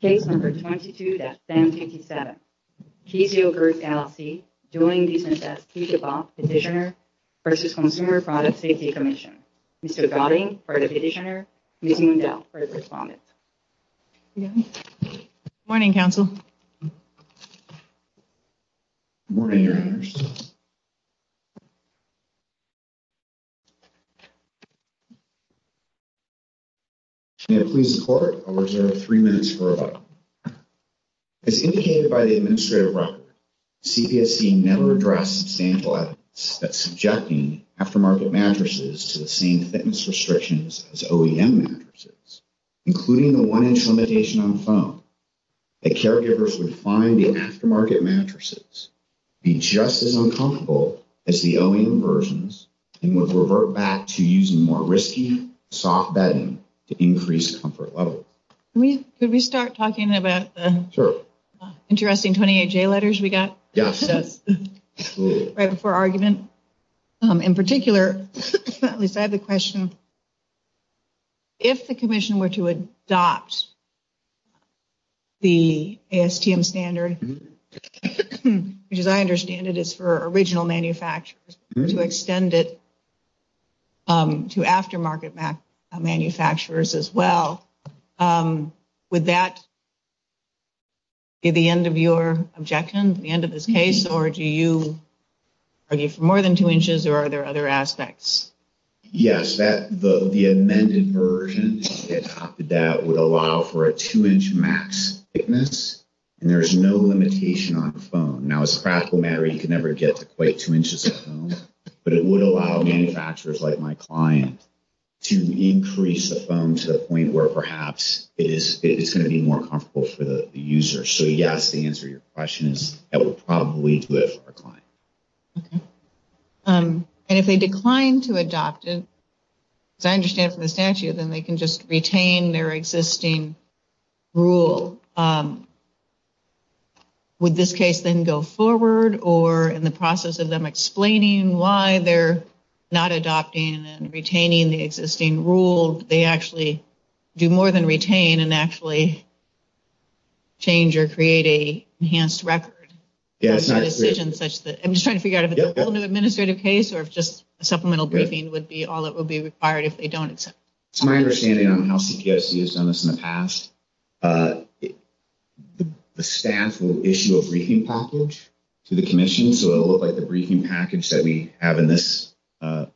Case No. 22-727. Keezio Group LLC joined the CPSC DeVos Petitioner v. Consumer Product Safety Commission. Mr. Godding for the petitioner, Ms. Mundell for the respondent. Good morning, counsel. Good morning, your honors. May it please the court, I'll reserve three minutes for rebuttal. As indicated by the administrative record, CPSC never addressed substantial evidence that subjecting aftermarket mattresses to the same thickness restrictions as OEM mattresses, including the one inch limitation on foam, that caregivers would find the aftermarket mattresses to be just as uncomfortable as the OEM versions and would revert back to using more risky, soft bedding to increase comfort levels. Could we start talking about the interesting 28J letters we got? Yes. Right before argument. In particular, at least I have a question, if the commission were to adopt the ASTM standard, which as I understand it is for original manufacturers, to extend it to aftermarket manufacturers as well, would that be the end of your objection at the end of this case, or do you argue for more than two inches, or are there other aspects? Yes, the amended version adopted that would allow for a two inch max thickness, and there is no limitation on foam. Now, as a practical matter, you can never get to quite two inches of foam, but it would allow manufacturers like my client to increase the foam to the point where perhaps it is going to be more comfortable for the user. So, yes, the answer to your question is that would probably do it for our client. And if they decline to adopt it, as I understand from the statute, then they can just retain their existing rule. So, would this case then go forward, or in the process of them explaining why they're not adopting and retaining the existing rule, they actually do more than retain and actually change or create a enhanced record? I'm just trying to figure out if it's a whole new administrative case, or if just a supplemental briefing would be all that would be required if they don't accept it. It's my understanding on how CPSC has done this in the past. The staff will issue a briefing package to the commission, so it will look like the briefing package that we have in this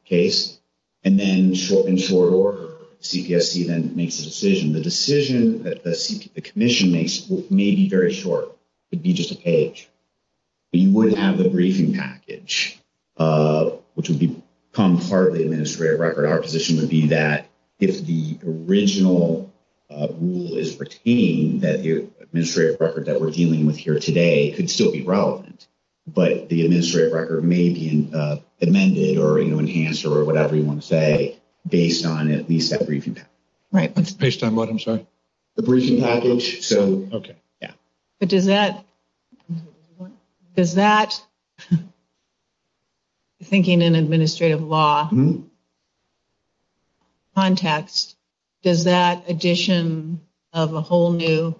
case. And then, short and short order, CPSC then makes a decision. The decision that the commission makes may be very short. It would be just a page. You would have the briefing package, which would become part of the administrative record. Our position would be that if the original rule is retained, that the administrative record that we're dealing with here today could still be relevant. But the administrative record may be amended or enhanced or whatever you want to say, based on at least that briefing package. Based on what, I'm sorry? The briefing package. Okay. But does that, thinking in administrative law context, does that addition of a whole new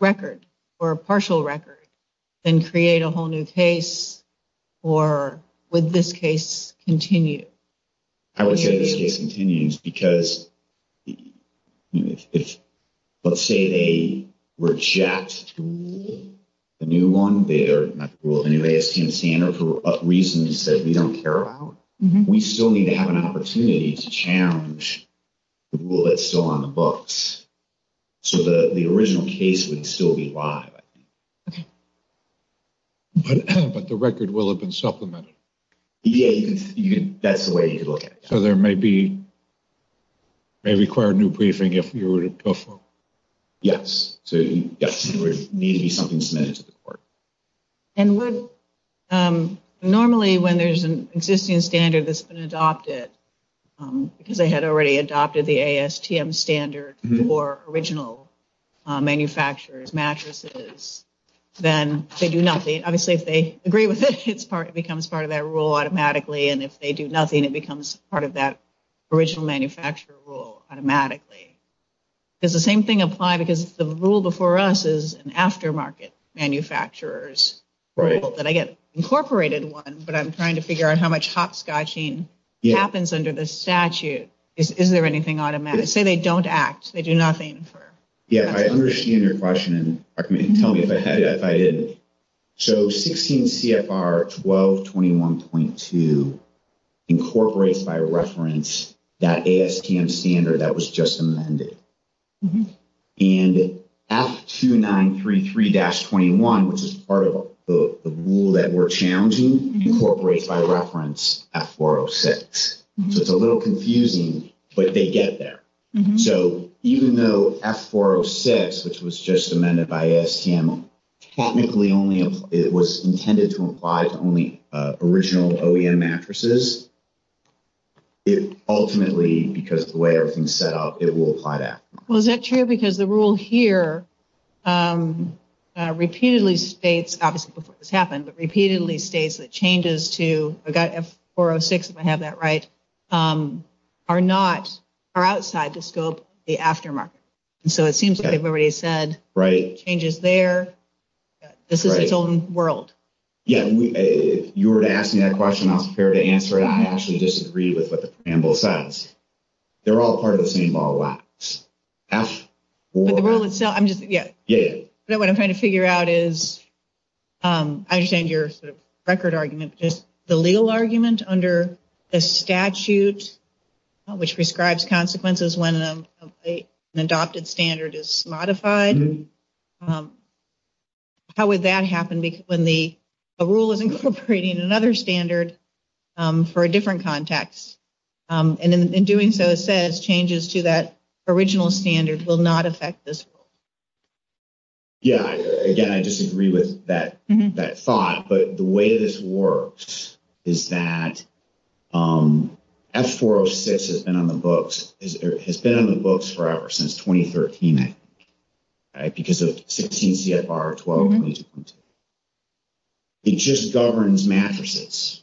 record or a partial record then create a whole new case? Or would this case continue? I would say this case continues because if, let's say, they reject the new one, the new ASTM standard for reasons that we don't care about, we still need to have an opportunity to challenge the rule that's still on the books. So the original case would still be live, I think. But the record will have been supplemented. Yeah, that's the way you could look at it. So there may be, may require a new briefing if you were to go for it. Yes. So yes, there would need to be something submitted to the court. And would, normally when there's an existing standard that's been adopted, because they had already adopted the ASTM standard for original manufacturers' mattresses, then they do nothing. And if they do nothing, it becomes part of that original manufacturer rule automatically. Does the same thing apply because the rule before us is an aftermarket manufacturer's rule that I get incorporated one, but I'm trying to figure out how much hopscotching happens under the statute. Is there anything automatic? Say they don't act. They do nothing. Yeah, I understand your question. And tell me if I had it, if I didn't. So 16 CFR 1221.2 incorporates by reference that ASTM standard that was just amended. And F2933-21, which is part of the rule that we're challenging, incorporates by reference F406. So it's a little confusing, but they get there. So even though F406, which was just amended by ASTM, technically it was intended to apply to only original OEM mattresses, it ultimately, because of the way everything's set up, it will apply that. Well, is that true? Because the rule here repeatedly states, obviously before this happened, but repeatedly states that changes to F406, if I have that right, are outside the scope of the aftermarket. And so it seems like they've already said changes there. This is its own world. Yeah. If you were to ask me that question, I was prepared to answer it. I actually disagree with what the program rule says. They're all part of the same ball of wax. But the rule itself, I'm just, yeah. I understand your sort of record argument, but just the legal argument under the statute which prescribes consequences when an adopted standard is modified, how would that happen when a rule is incorporating another standard for a different context? And in doing so, it says changes to that original standard will not affect this rule. Yeah. Again, I disagree with that thought. But the way this works is that F406 has been on the books forever since 2013, I think, because of 16 CFR 12. It just governs mattresses.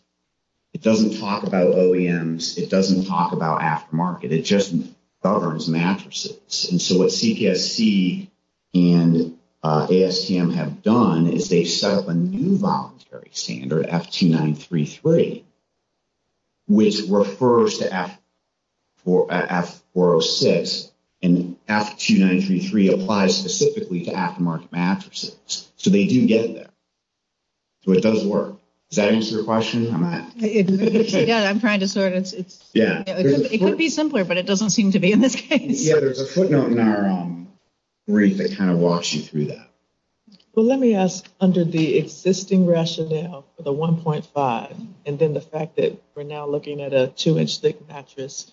It doesn't talk about OEMs. It doesn't talk about aftermarket. It just governs mattresses. And so what CPSC and ASTM have done is they've set up a new voluntary standard, F2933, which refers to F406, and F2933 applies specifically to aftermarket mattresses. So they do get there. So it does work. Does that answer your question? Yeah, I'm trying to sort it. Yeah. It could be simpler, but it doesn't seem to be in this case. Yeah, there's a footnote in our brief that kind of walks you through that. Well, let me ask, under the existing rationale for the 1.5 and then the fact that we're now looking at a 2-inch thick mattress,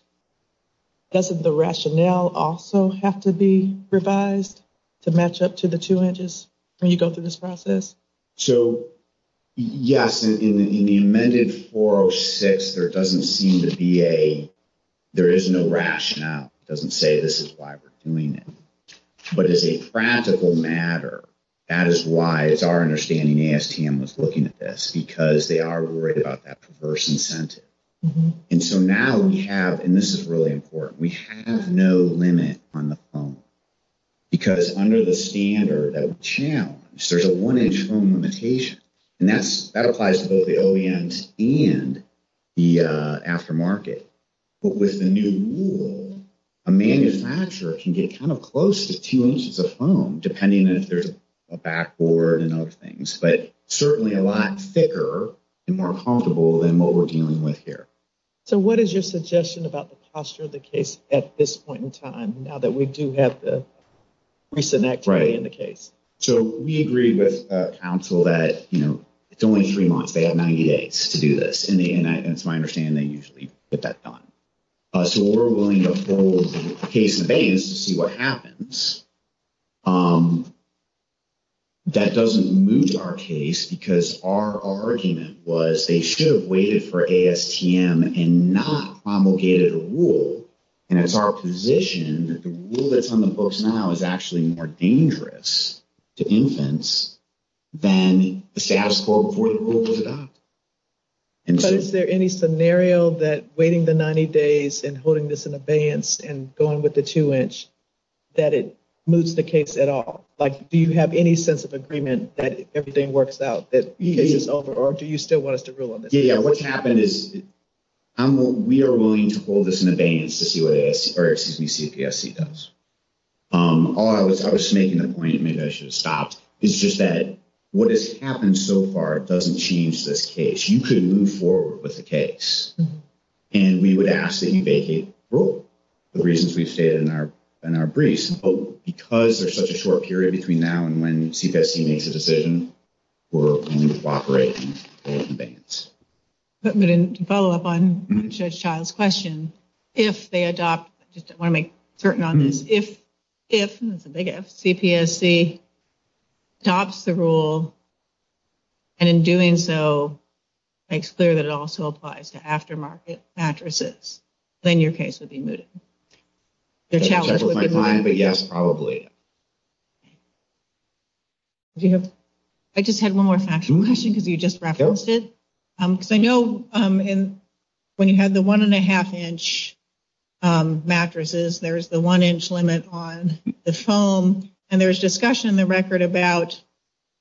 doesn't the rationale also have to be revised to match up to the 2 inches when you go through this process? So, yes, in the amended 406, there doesn't seem to be a, there is no rationale. It doesn't say this is why we're doing it. But as a practical matter, that is why it's our understanding ASTM was looking at this, because they are worried about that perverse incentive. And so now we have, and this is really important, we have no limit on the foam. Because under the standard that we challenge, there's a 1-inch foam limitation. And that applies to both the OEMs and the aftermarket. But with the new rule, a manufacturer can get kind of close to 2 inches of foam, depending on if there's a backboard and other things, but certainly a lot thicker and more comfortable than what we're dealing with here. So what is your suggestion about the posture of the case at this point in time, So we agree with counsel that, you know, it's only three months. They have 90 days to do this. And it's my understanding they usually get that done. So we're willing to hold the case in the veins to see what happens. That doesn't move our case because our argument was they should have waited for ASTM and not promulgated a rule. And it's our position that the rule that's on the books now is actually more dangerous to infants than the status quo before the rule was adopted. But is there any scenario that waiting the 90 days and holding this in abeyance and going with the 2-inch, that it moves the case at all? Like, do you have any sense of agreement that everything works out, that the case is over, or do you still want us to rule on this? Yeah, what's happened is we are willing to hold this in abeyance to see what CPSC does. I was making the point, maybe I should have stopped, it's just that what has happened so far doesn't change this case. You could move forward with the case. And we would ask that you vacate the rule, the reasons we've stated in our briefs. But because there's such a short period between now and when CPSC makes a decision, we're going to cooperate and hold it in abeyance. To follow up on Judge Child's question, if they adopt, I just want to make certain on this, if CPSC adopts the rule and in doing so makes clear that it also applies to aftermarket mattresses, then your case would be mooted. Judge Child would be lying, but yes, probably. I just had one more factual question because you just referenced it. Because I know when you had the one-and-a-half-inch mattresses, there's the one-inch limit on the foam, and there was discussion in the record about,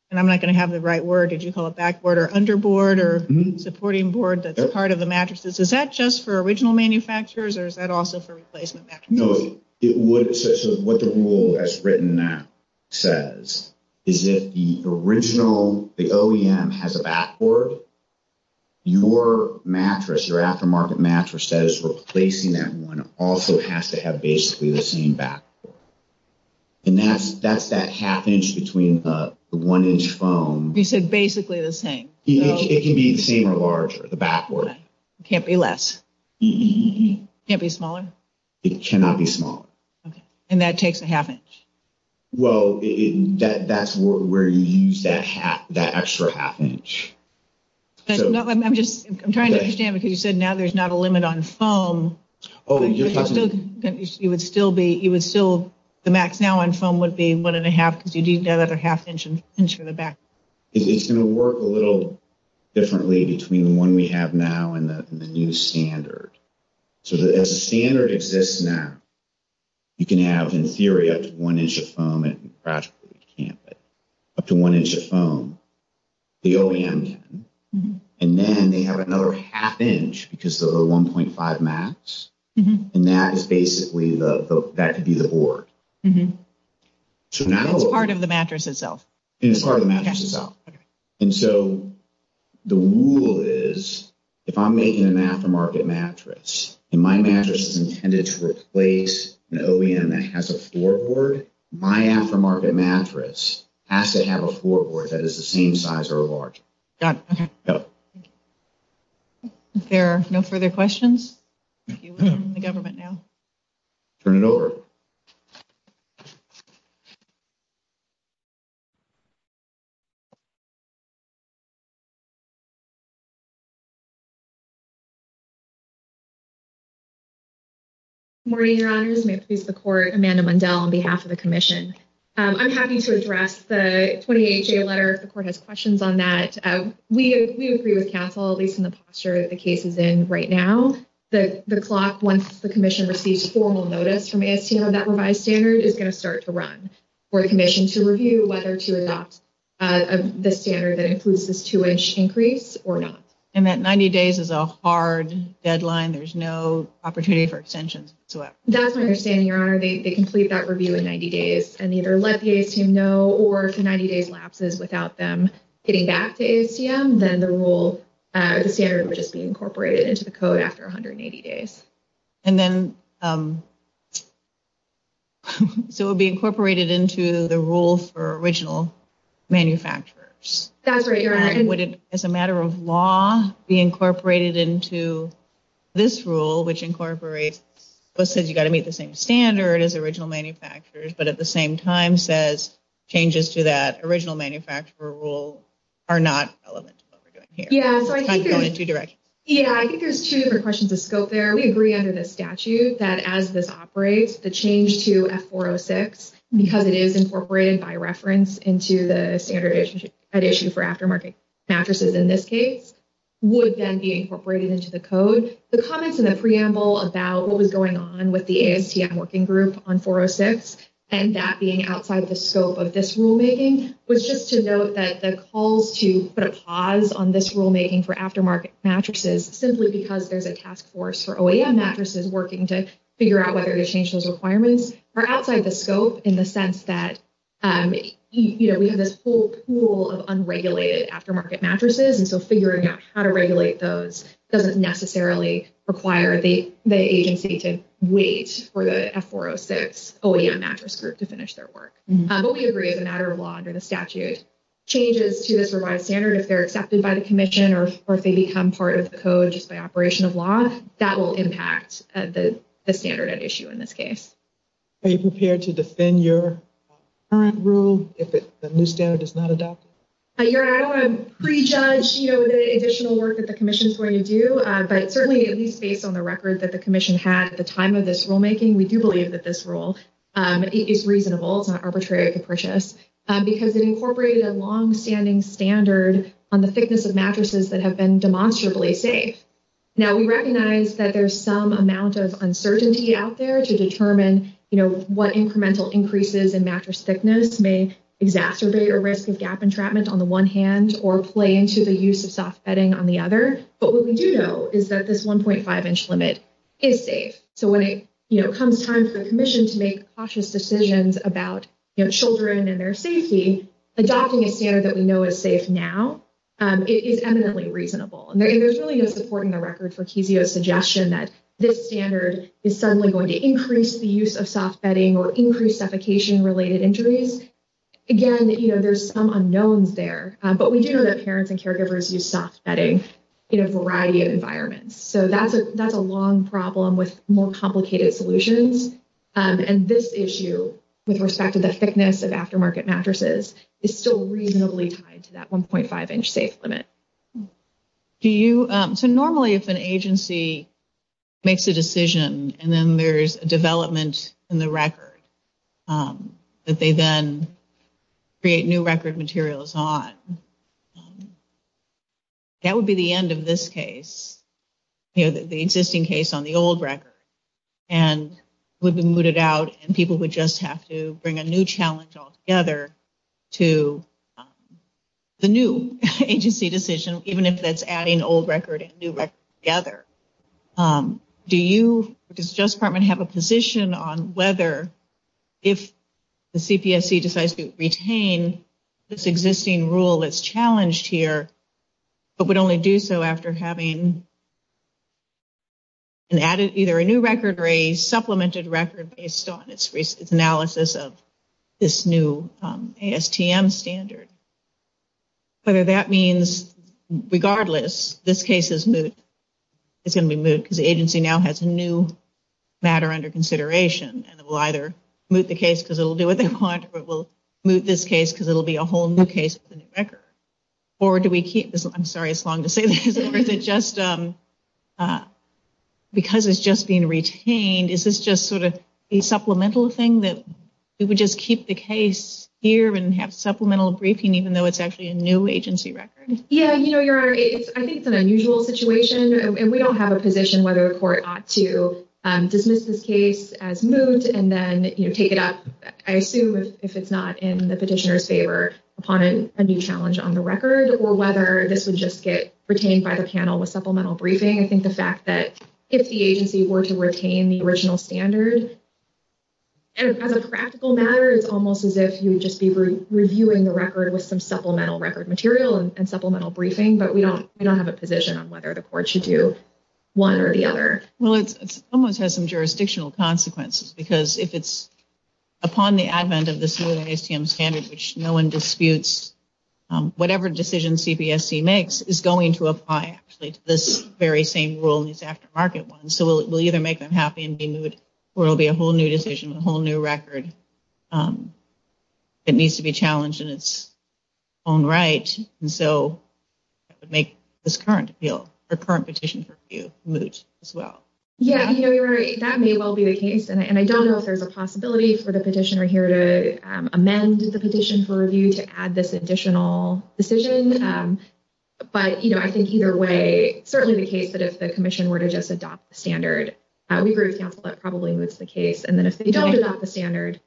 and I'm not going to have the right word, did you call it backboard or underboard or supporting board that's part of the mattresses? Is that just for original manufacturers or is that also for replacement mattresses? No. So what the rule has written now says is if the original, the OEM, has a backboard, your mattress, your aftermarket mattress that is replacing that one also has to have basically the same backboard. And that's that half-inch between the one-inch foam. You said basically the same. It can be the same or larger, the backboard. It can't be less. It can't be smaller? It cannot be smaller. Okay. And that takes a half-inch? Well, that's where you use that extra half-inch. I'm just trying to understand because you said now there's not a limit on foam. Oh, you're talking about... It would still be, the max now on foam would be one-and-a-half because you need another half-inch for the back. It's going to work a little differently between the one we have now and the new standard. So as the standard exists now, you can have, in theory, up to one-inch of foam. It practically can't, but up to one-inch of foam. The OEM can. And then they have another half-inch because of the 1.5 max. And that is basically, that could be the board. So now... That's part of the mattress itself. And it's part of the mattress itself. Okay. And so the rule is, if I'm making an aftermarket mattress, and my mattress is intended to replace an OEM that has a floorboard, my aftermarket mattress has to have a floorboard that is the same size or larger. Got it. Okay. Yep. If there are no further questions, we're in the government now. Turn it over. Good morning, Your Honors. May it please the Court. Amanda Mundell on behalf of the Commission. I'm happy to address the 28-J letter if the Court has questions on that. We agree with counsel, at least in the posture that the case is in right now. The clock, once the Commission receives formal notice from ASTM of that revised standard, is going to start to run for the Commission to review whether to extend it or not. The standard that includes this two-inch increase or not. And that 90 days is a hard deadline. There's no opportunity for extensions. That's my understanding, Your Honor. They complete that review in 90 days and either let the ASTM know or if the 90 days lapses without them getting back to ASTM, then the rule, the standard would just be incorporated into the code after 180 days. And then so it would be incorporated into the rule for original manufacturers. That's right, Your Honor. Would it, as a matter of law, be incorporated into this rule, which incorporates what says you've got to meet the same standard as original manufacturers, but at the same time says changes to that original manufacturer rule are not relevant to what we're doing here. Yeah, so I think there's two different questions of scope there. We agree under the statute that as this operates, the change to F406, because it is incorporated by reference into the standard issue for aftermarket mattresses in this case, would then be incorporated into the code. The comments in the preamble about what was going on with the ASTM working group on 406 and that being outside the scope of this rulemaking was just to note that the calls to put a pause on this rulemaking for aftermarket mattresses simply because there's a task force for OEM mattresses working to figure out whether to change those requirements are outside the scope in the sense that, you know, we have this whole pool of unregulated aftermarket mattresses. And so figuring out how to regulate those doesn't necessarily require the agency to wait for the F406 OEM mattress group to finish their work. But we agree as a matter of law under the statute, changes to this revised standard, if they're accepted by the commission or if they become part of the code just by operation of law, that will impact the standard at issue in this case. Are you prepared to defend your current rule if the new standard is not adopted? I don't want to prejudge, you know, the additional work that the commission is going to do, but certainly at least based on the record that the commission had at the time of this rulemaking, we do believe that this rule is reasonable. It's not arbitrary or capricious because it incorporated a longstanding standard on the thickness of mattresses that have been demonstrably safe. Now, we recognize that there's some amount of uncertainty out there to determine, you know, what incremental increases in mattress thickness may exacerbate a risk of gap entrapment on the one hand or play into the use of soft bedding on the other. But what we do know is that this 1.5 inch limit is safe. So when it comes time for the commission to make cautious decisions about children and their safety, adopting a standard that we know is safe now is eminently reasonable. And there's really no supporting the record for Kizio's suggestion that this standard is suddenly going to increase the use of soft bedding or increase suffocation related injuries. Again, you know, there's some unknowns there, but we do know that parents and caregivers use soft bedding in a variety of environments. So that's a long problem with more complicated solutions. And this issue with respect to the thickness of aftermarket mattresses is still reasonably tied to that 1.5 inch safe limit. So normally if an agency makes a decision and then there's a development in the record that they then create new record materials on, that would be the end of this case. You know, the existing case on the old record and would be mooted out and people would just have to bring a new challenge altogether to the new agency decision, even if that's adding old record and new record together. Does the Justice Department have a position on whether if the CPSC decides to retain this existing rule that's challenged here but would only do so after having either a new record or a supplemented record based on its analysis of this new ASTM standard? Whether that means regardless, this case is moot. It's going to be moot because the agency now has a new matter under consideration and it will either moot the case because it will do what they want or it will moot this case because it will be a whole new case with a new record. Or do we keep this? I'm sorry, it's long to say this. Or is it just because it's just being retained, is this just sort of a supplemental thing that we would just keep the case here and have supplemental briefing even though it's actually a new agency record? Yeah, you know, Your Honor, I think it's an unusual situation and we don't have a position whether a court ought to dismiss this case as moot and then take it up, I assume if it's not in the petitioner's favor, upon a new challenge on the record or whether this would just get retained by the panel with supplemental briefing. I think the fact that if the agency were to retain the original standard, as a practical matter it's almost as if you would just be reviewing the record with some supplemental record material and supplemental briefing, but we don't have a position on whether the court should do one or the other. Well, it almost has some jurisdictional consequences because if it's upon the advent of this new ASTM standard which no one disputes, whatever decision CPSC makes is going to apply actually to this very same rule, these aftermarket ones, so we'll either make them happy and be moot or it will be a whole new decision, a whole new record that needs to be challenged in its own right. And so that would make this current appeal, the current petition for review moot as well. Yeah, Your Honor, that may well be the case, and I don't know if there's a possibility for the petitioner here to amend the petition for review, to add this additional decision, but I think either way, certainly the case that if the commission were to just adopt the standard, we agree with counsel that probably moots the case, and then if they don't adopt the standard,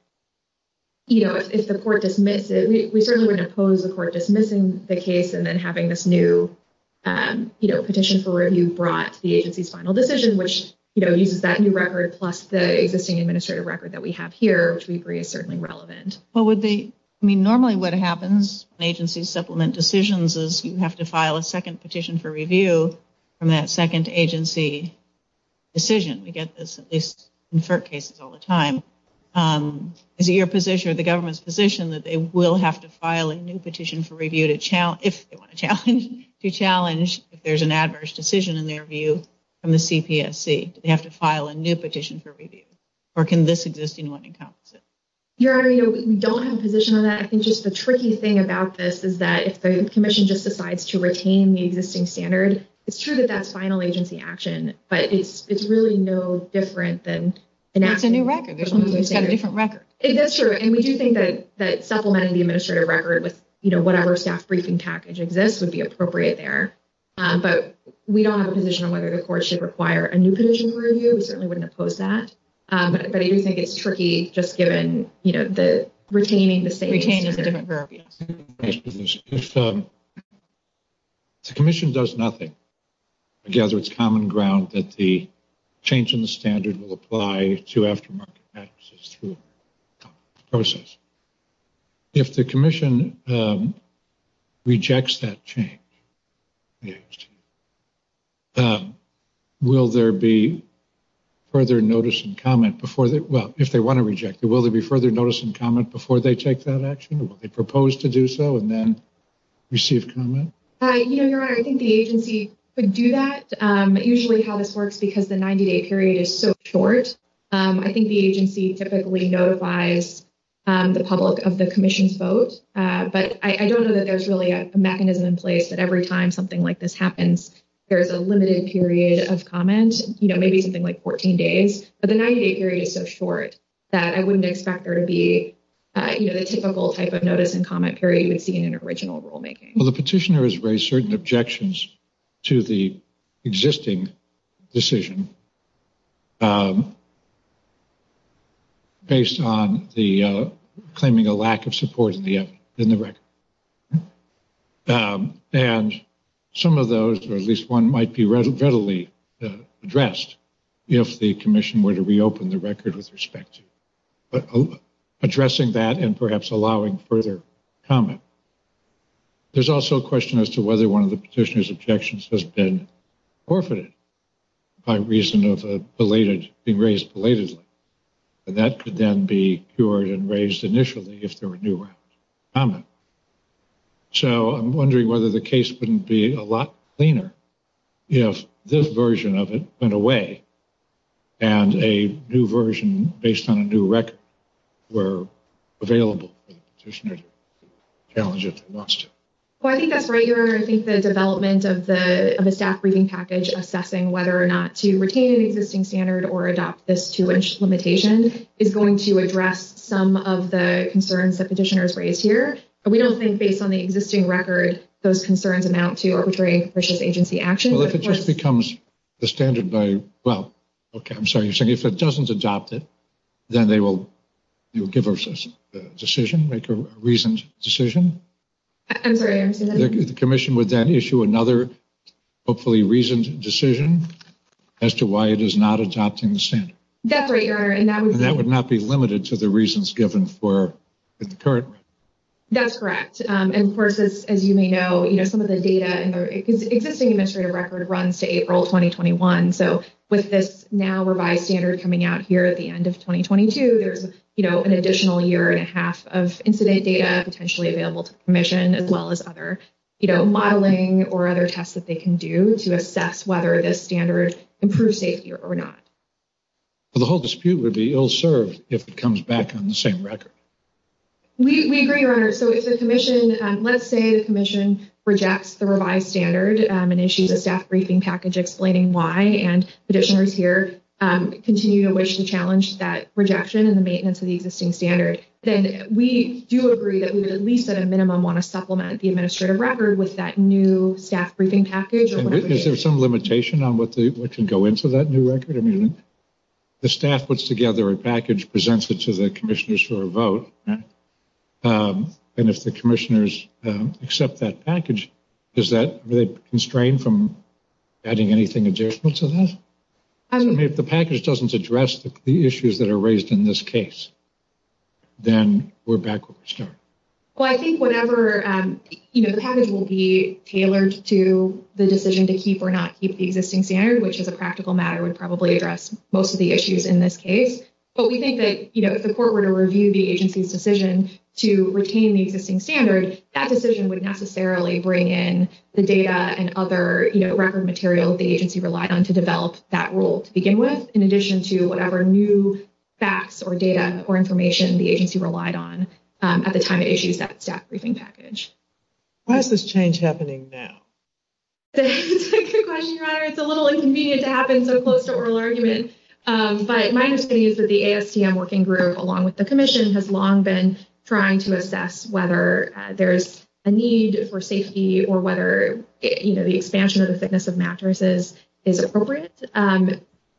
if the court dismisses it, we certainly wouldn't oppose the court dismissing the case and then having this new petition for review brought to the agency's final decision, which uses that new record plus the existing administrative record that we have here, which we agree is certainly relevant. Normally what happens when agencies supplement decisions is you have to file a second petition for review from that second agency decision. We get this at least in FERC cases all the time. Is it your position or the government's position that they will have to file a new petition for review if they want to challenge if there's an adverse decision in their view from the CPSC? Do they have to file a new petition for review, or can this existing one encompass it? Your Honor, we don't have a position on that. I think just the tricky thing about this is that if the commission just decides to retain the existing standard, it's true that that's final agency action, but it's really no different than enacting a new standard. It's a new record. It's got a different record. That's true, and we do think that supplementing the administrative record with whatever staff briefing package exists would be appropriate there, but we don't have a position on whether the court should require a new petition for review. We certainly wouldn't oppose that, but I do think it's tricky just given, you know, the retaining the same standard. Retaining is a different verb. If the commission does nothing, I gather it's common ground that the change in the standard will apply to aftermarket further notice and comment before they, well, if they want to reject it, will there be further notice and comment before they take that action? Will they propose to do so and then receive comment? You know, Your Honor, I think the agency could do that. Usually how this works, because the 90-day period is so short, I think the agency typically notifies the public of the commission's vote, but I don't know that there's really a mechanism in place that every time something like this happens, there's a limited period of comment, you know, maybe something like 14 days, but the 90-day period is so short that I wouldn't expect there to be, you know, the typical type of notice and comment period you would see in an original rulemaking. Well, the petitioner has raised certain objections to the existing decision based on the claiming a lack of support in the record. And some of those, or at least one might be readily addressed, if the commission were to reopen the record with respect to addressing that and perhaps allowing further comment. There's also a question as to whether one of the petitioner's objections has been forfeited by reason of being raised belatedly. And that could then be cured and raised initially if there were new comments. So I'm wondering whether the case wouldn't be a lot cleaner if this version of it went away and a new version based on a new record were available for the petitioner to challenge if he wants to. Well, I think that's right. I think the development of a staff briefing package assessing whether or not to retain an existing standard or adopt this to which limitation is going to address some of the concerns that petitioners raise here. We don't think based on the existing record, those concerns amount to arbitrary agency action. Well, if it just becomes the standard by, well, okay, I'm sorry. You're saying if it doesn't adopt it, then they will give us a decision, make a reasoned decision? I'm sorry, I didn't see that. The commission would then issue another hopefully reasoned decision as to why it is not adopting the standard. That's right. And that would not be limited to the reasons given for the current. That's correct. And, of course, as you may know, some of the data and the existing administrative record runs to April 2021. So with this now revised standard coming out here at the end of 2022, there's an additional year and a half of incident data potentially available to the commission as well as other modeling or other tests that they can do to assess whether this standard improves safety or not. The whole dispute would be ill served if it comes back on the same record. We agree, Your Honor. So if the commission, let's say the commission rejects the revised standard and issues a staff briefing package explaining why and petitioners here continue to challenge that rejection and the maintenance of the existing standard, then we do agree that we would at least at a minimum want to supplement the administrative record with that new staff briefing package. Is there some limitation on what can go into that new record? I mean, the staff puts together a package, presents it to the commissioners for a vote, and if the commissioners accept that package, is that constrained from adding anything additional to that? I mean, if the package doesn't address the issues that are raised in this case, then we're back where we started. Well, I think whatever, you know, the package will be tailored to the decision to keep or not keep the existing standard, which as a practical matter would probably address most of the issues in this case. But we think that, you know, if the court were to review the agency's decision to retain the existing standard, that decision would necessarily bring in the data and other, you know, record material the agency relied on to develop that rule to begin with in addition to whatever new facts or data or information the agency relied on at the time it issues that staff briefing package. Why is this change happening now? That's a good question, Your Honor. It's a little inconvenient to happen so close to oral argument. But my understanding is that the ASTM working group, along with the commission, has long been trying to assess whether there is a need for safety or whether, you know, the expansion of the thickness of mattresses is appropriate.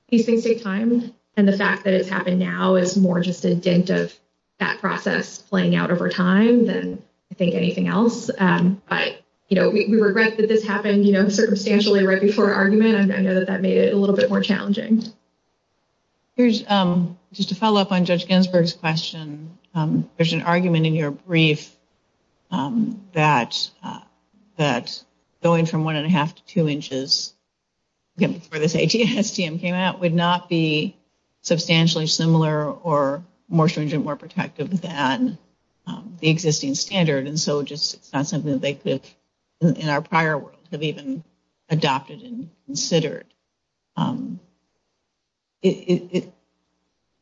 These things take time, and the fact that it's happened now is more just a dint of that process playing out over time than I think anything else. But, you know, we regret that this happened, you know, circumstantially right before argument. I know that that made it a little bit more challenging. Here's just a follow-up on Judge Ginsburg's question. There's an argument in your brief that going from one-and-a-half to two inches, again, before this ASTM came out, would not be substantially similar or more stringent, more protective than the existing standard. And so it's not something that they could have, in our prior world, have even adopted and considered.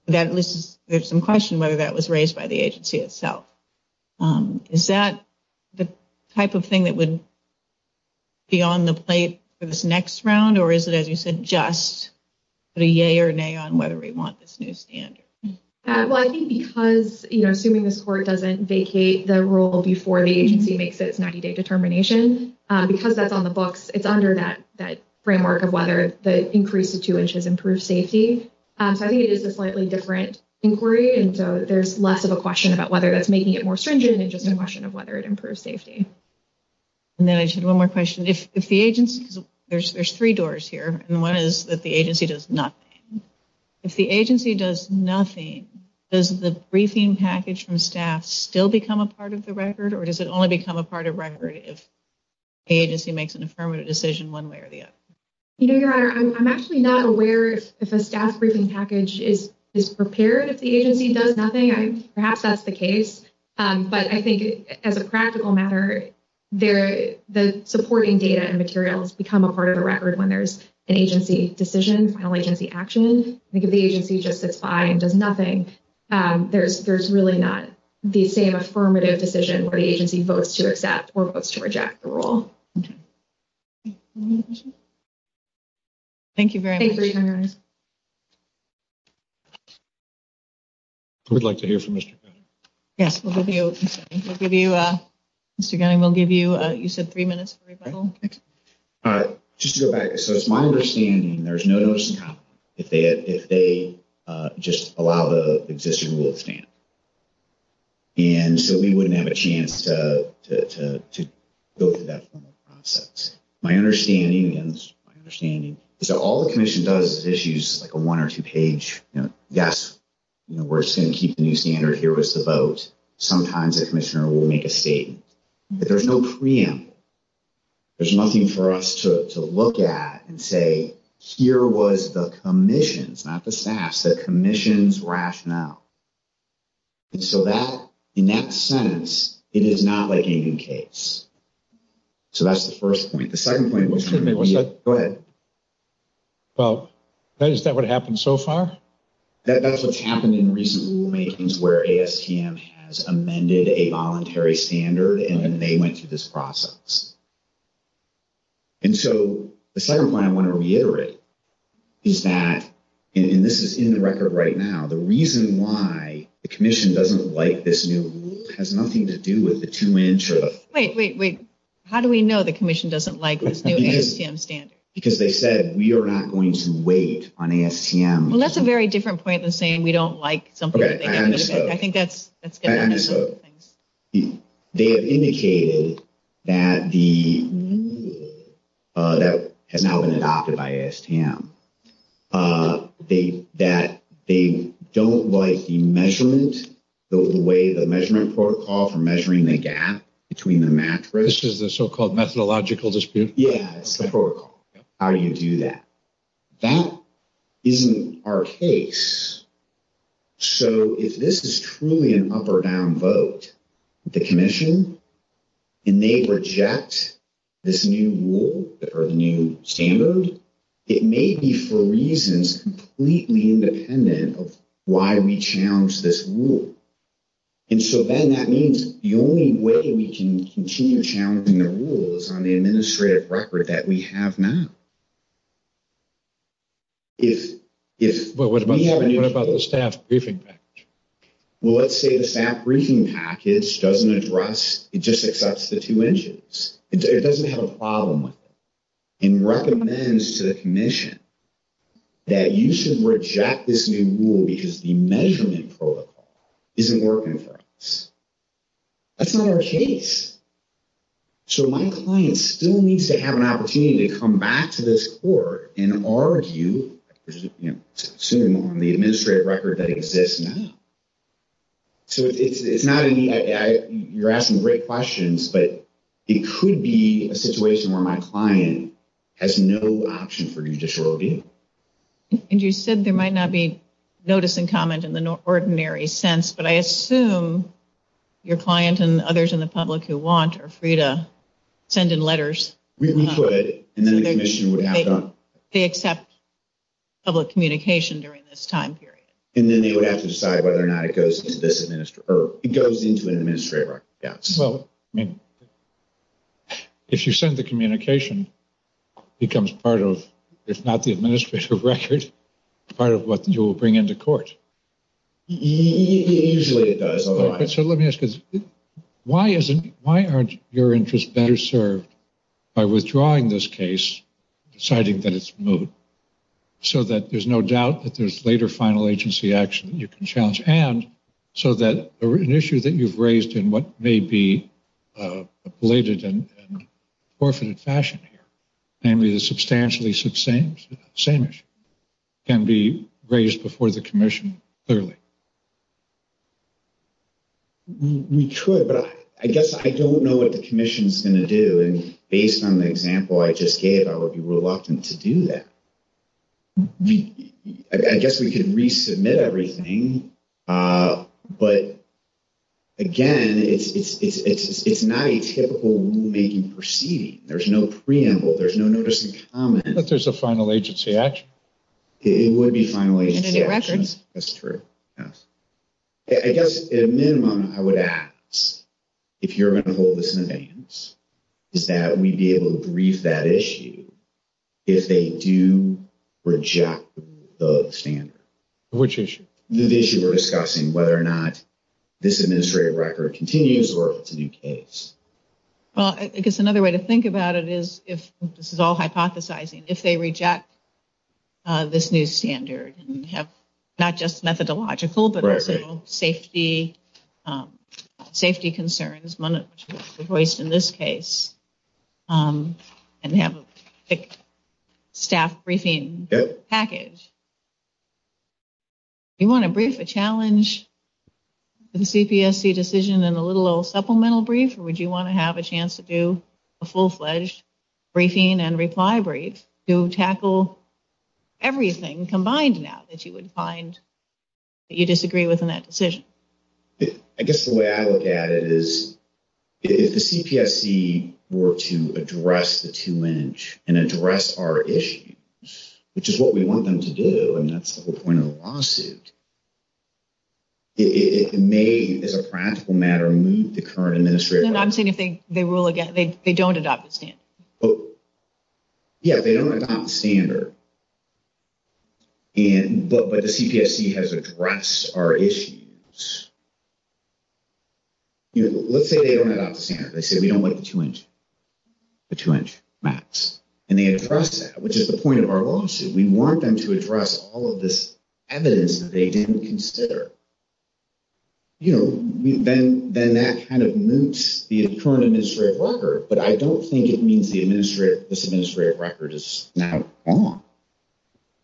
There's some question whether that was raised by the agency itself. Is that the type of thing that would be on the plate for this next round, or is it, as you said, just put a yea or nay on whether we want this new standard? Well, I think because, you know, assuming this Court doesn't vacate the rule before the agency makes its 90-day determination, because that's on the books, it's under that framework of whether the increase to two inches improves safety. So I think it is a slightly different inquiry, and so there's less of a question about whether that's making it more stringent and just a question of whether it improves safety. And then I just had one more question. If the agency – because there's three doors here, and one is that the agency does nothing. If the agency does nothing, does the briefing package from staff still become a part of the record, or does it only become a part of the record if the agency makes an affirmative decision one way or the other? You know, Your Honor, I'm actually not aware if a staff briefing package is prepared if the agency does nothing. Perhaps that's the case. But I think as a practical matter, the supporting data and materials become a part of the record when there's an agency decision, final agency action. I think if the agency just sits by and does nothing, there's really not the same affirmative decision where the agency votes to accept or votes to reject the rule. Thank you very much, Your Honor. Who would like to hear from Mr. Gunning? Yes, we'll give you – Mr. Gunning, we'll give you – you said three minutes for rebuttal. All right. Just to go back. So it's my understanding there's no notice in common if they just allow the existing rule to stand. And so we wouldn't have a chance to go through that formal process. My understanding is that all the commission does is issues like a one- or two-page, you know, yes, we're just going to keep the new standard here with the vote. Sometimes the commissioner will make a statement. But there's no preamble. There's nothing for us to look at and say, here was the commission's, not the staff's, the commission's rationale. And so that – in that sense, it is not like a new case. So that's the first point. The second point was – go ahead. Well, is that what happened so far? That's what's happened in recent rulemakings where ASTM has amended a voluntary standard, and then they went through this process. And so the second point I want to reiterate is that – and this is in the record right now – the reason why the commission doesn't like this new rule has nothing to do with the two-inch or the – Wait, wait, wait. How do we know the commission doesn't like this new ASTM standard? Because they said we are not going to wait on ASTM. Well, that's a very different point than saying we don't like something. I think that's – They have indicated that the – that has now been adopted by ASTM. That they don't like the measurement, the way the measurement protocol for measuring the gap between the mattress. This is the so-called methodological dispute? Yeah, it's the protocol. How do you do that? That isn't our case. So if this is truly an up-or-down vote, the commission, and they reject this new rule or the new standard, it may be for reasons completely independent of why we challenged this rule. And so then that means the only way we can continue challenging the rule is on the administrative record that we have now. But what about the staff briefing package? Well, let's say the staff briefing package doesn't address – it just accepts the two inches. It doesn't have a problem with it and recommends to the commission that you should reject this new rule because the measurement protocol isn't working for us. That's not our case. So my client still needs to have an opportunity to come back to this court and argue, assuming on the administrative record that exists now. So it's not – you're asking great questions, but it could be a situation where my client has no option for judicial review. And you said there might not be notice and comment in the ordinary sense, but I assume your client and others in the public who want are free to send in letters. We could, and then the commission would have to – They accept public communication during this time period. And then they would have to decide whether or not it goes into an administrative record. Well, I mean, if you send the communication, it becomes part of, if not the administrative record, part of what you will bring into court. Usually it does. So let me ask you this. Why aren't your interests better served by withdrawing this case, deciding that it's removed, so that there's no doubt that there's later final agency action that you can challenge, and so that an issue that you've raised in what may be a belated and forfeited fashion here, namely the substantially same issue, can be raised before the commission clearly? We could, but I guess I don't know what the commission is going to do. And based on the example I just gave, I would be reluctant to do that. I guess we could resubmit everything. But, again, it's not a typical rulemaking proceeding. There's no preamble. There's no notice of comment. But there's a final agency action. It would be final agency action. And a new record. That's true, yes. I guess, at a minimum, I would ask, if you're going to hold this in advance, is that we be able to brief that issue if they do reject the standard. Which issue? The issue we're discussing, whether or not this administrative record continues or if it's a new case. Well, I guess another way to think about it is, if this is all hypothesizing, if they reject this new standard and have not just methodological but also safety concerns, which was voiced in this case, and have a staff briefing package, do you want to brief a challenge to the CPSC decision in a little supplemental brief, or would you want to have a chance to do a full-fledged briefing and reply brief to tackle everything combined now that you would find that you disagree with in that decision? I guess the way I look at it is, if the CPSC were to address the two-inch and address our issue, which is what we want them to do, and that's the whole point of the lawsuit, it may, as a practical matter, move the current administrative record. I'm saying if they rule again, they don't adopt the standard. Yeah, they don't adopt the standard, but the CPSC has addressed our issues. Let's say they don't adopt the standard. They say we don't like the two-inch max, and they address that, which is the point of our lawsuit. We want them to address all of this evidence that they didn't consider. Then that kind of moots the current administrative record, but I don't think it means this administrative record is now on.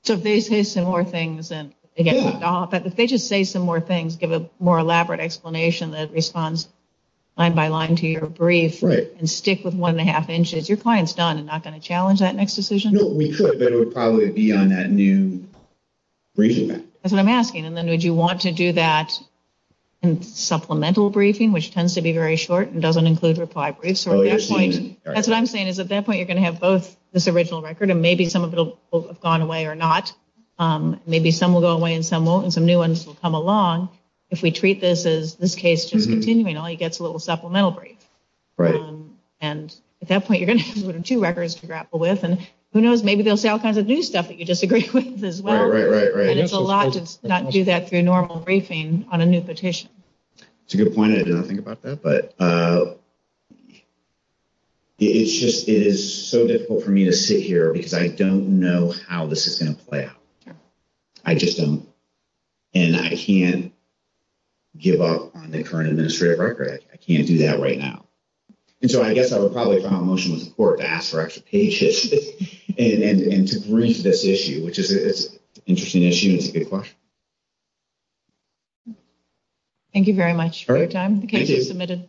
So if they say some more things and they get to adopt, if they just say some more things, give a more elaborate explanation that responds line-by-line to your brief, and stick with one-and-a-half inches, your client's done and not going to challenge that next decision? No, we could, but it would probably be on that new briefing. That's what I'm asking, and then would you want to do that in supplemental briefing, which tends to be very short and doesn't include reply briefs? That's what I'm saying is at that point you're going to have both this original record, and maybe some of it will have gone away or not. Maybe some will go away and some won't, and some new ones will come along. If we treat this as this case just continuing, all you get is a little supplemental brief. At that point you're going to have two records to grapple with, and who knows, maybe they'll say all kinds of new stuff that you disagree with as well. Right, right, right. And it's a lot to not do that through normal briefing on a new petition. That's a good point. I did not think about that. It is so difficult for me to sit here because I don't know how this is going to play out. I just don't. And I can't give up on the current administrative record. I can't do that right now. And so I guess I would probably file a motion with the court to ask for extra pages and to brief this issue, which is an interesting issue and it's a good question. Thank you very much for your time. The case is submitted.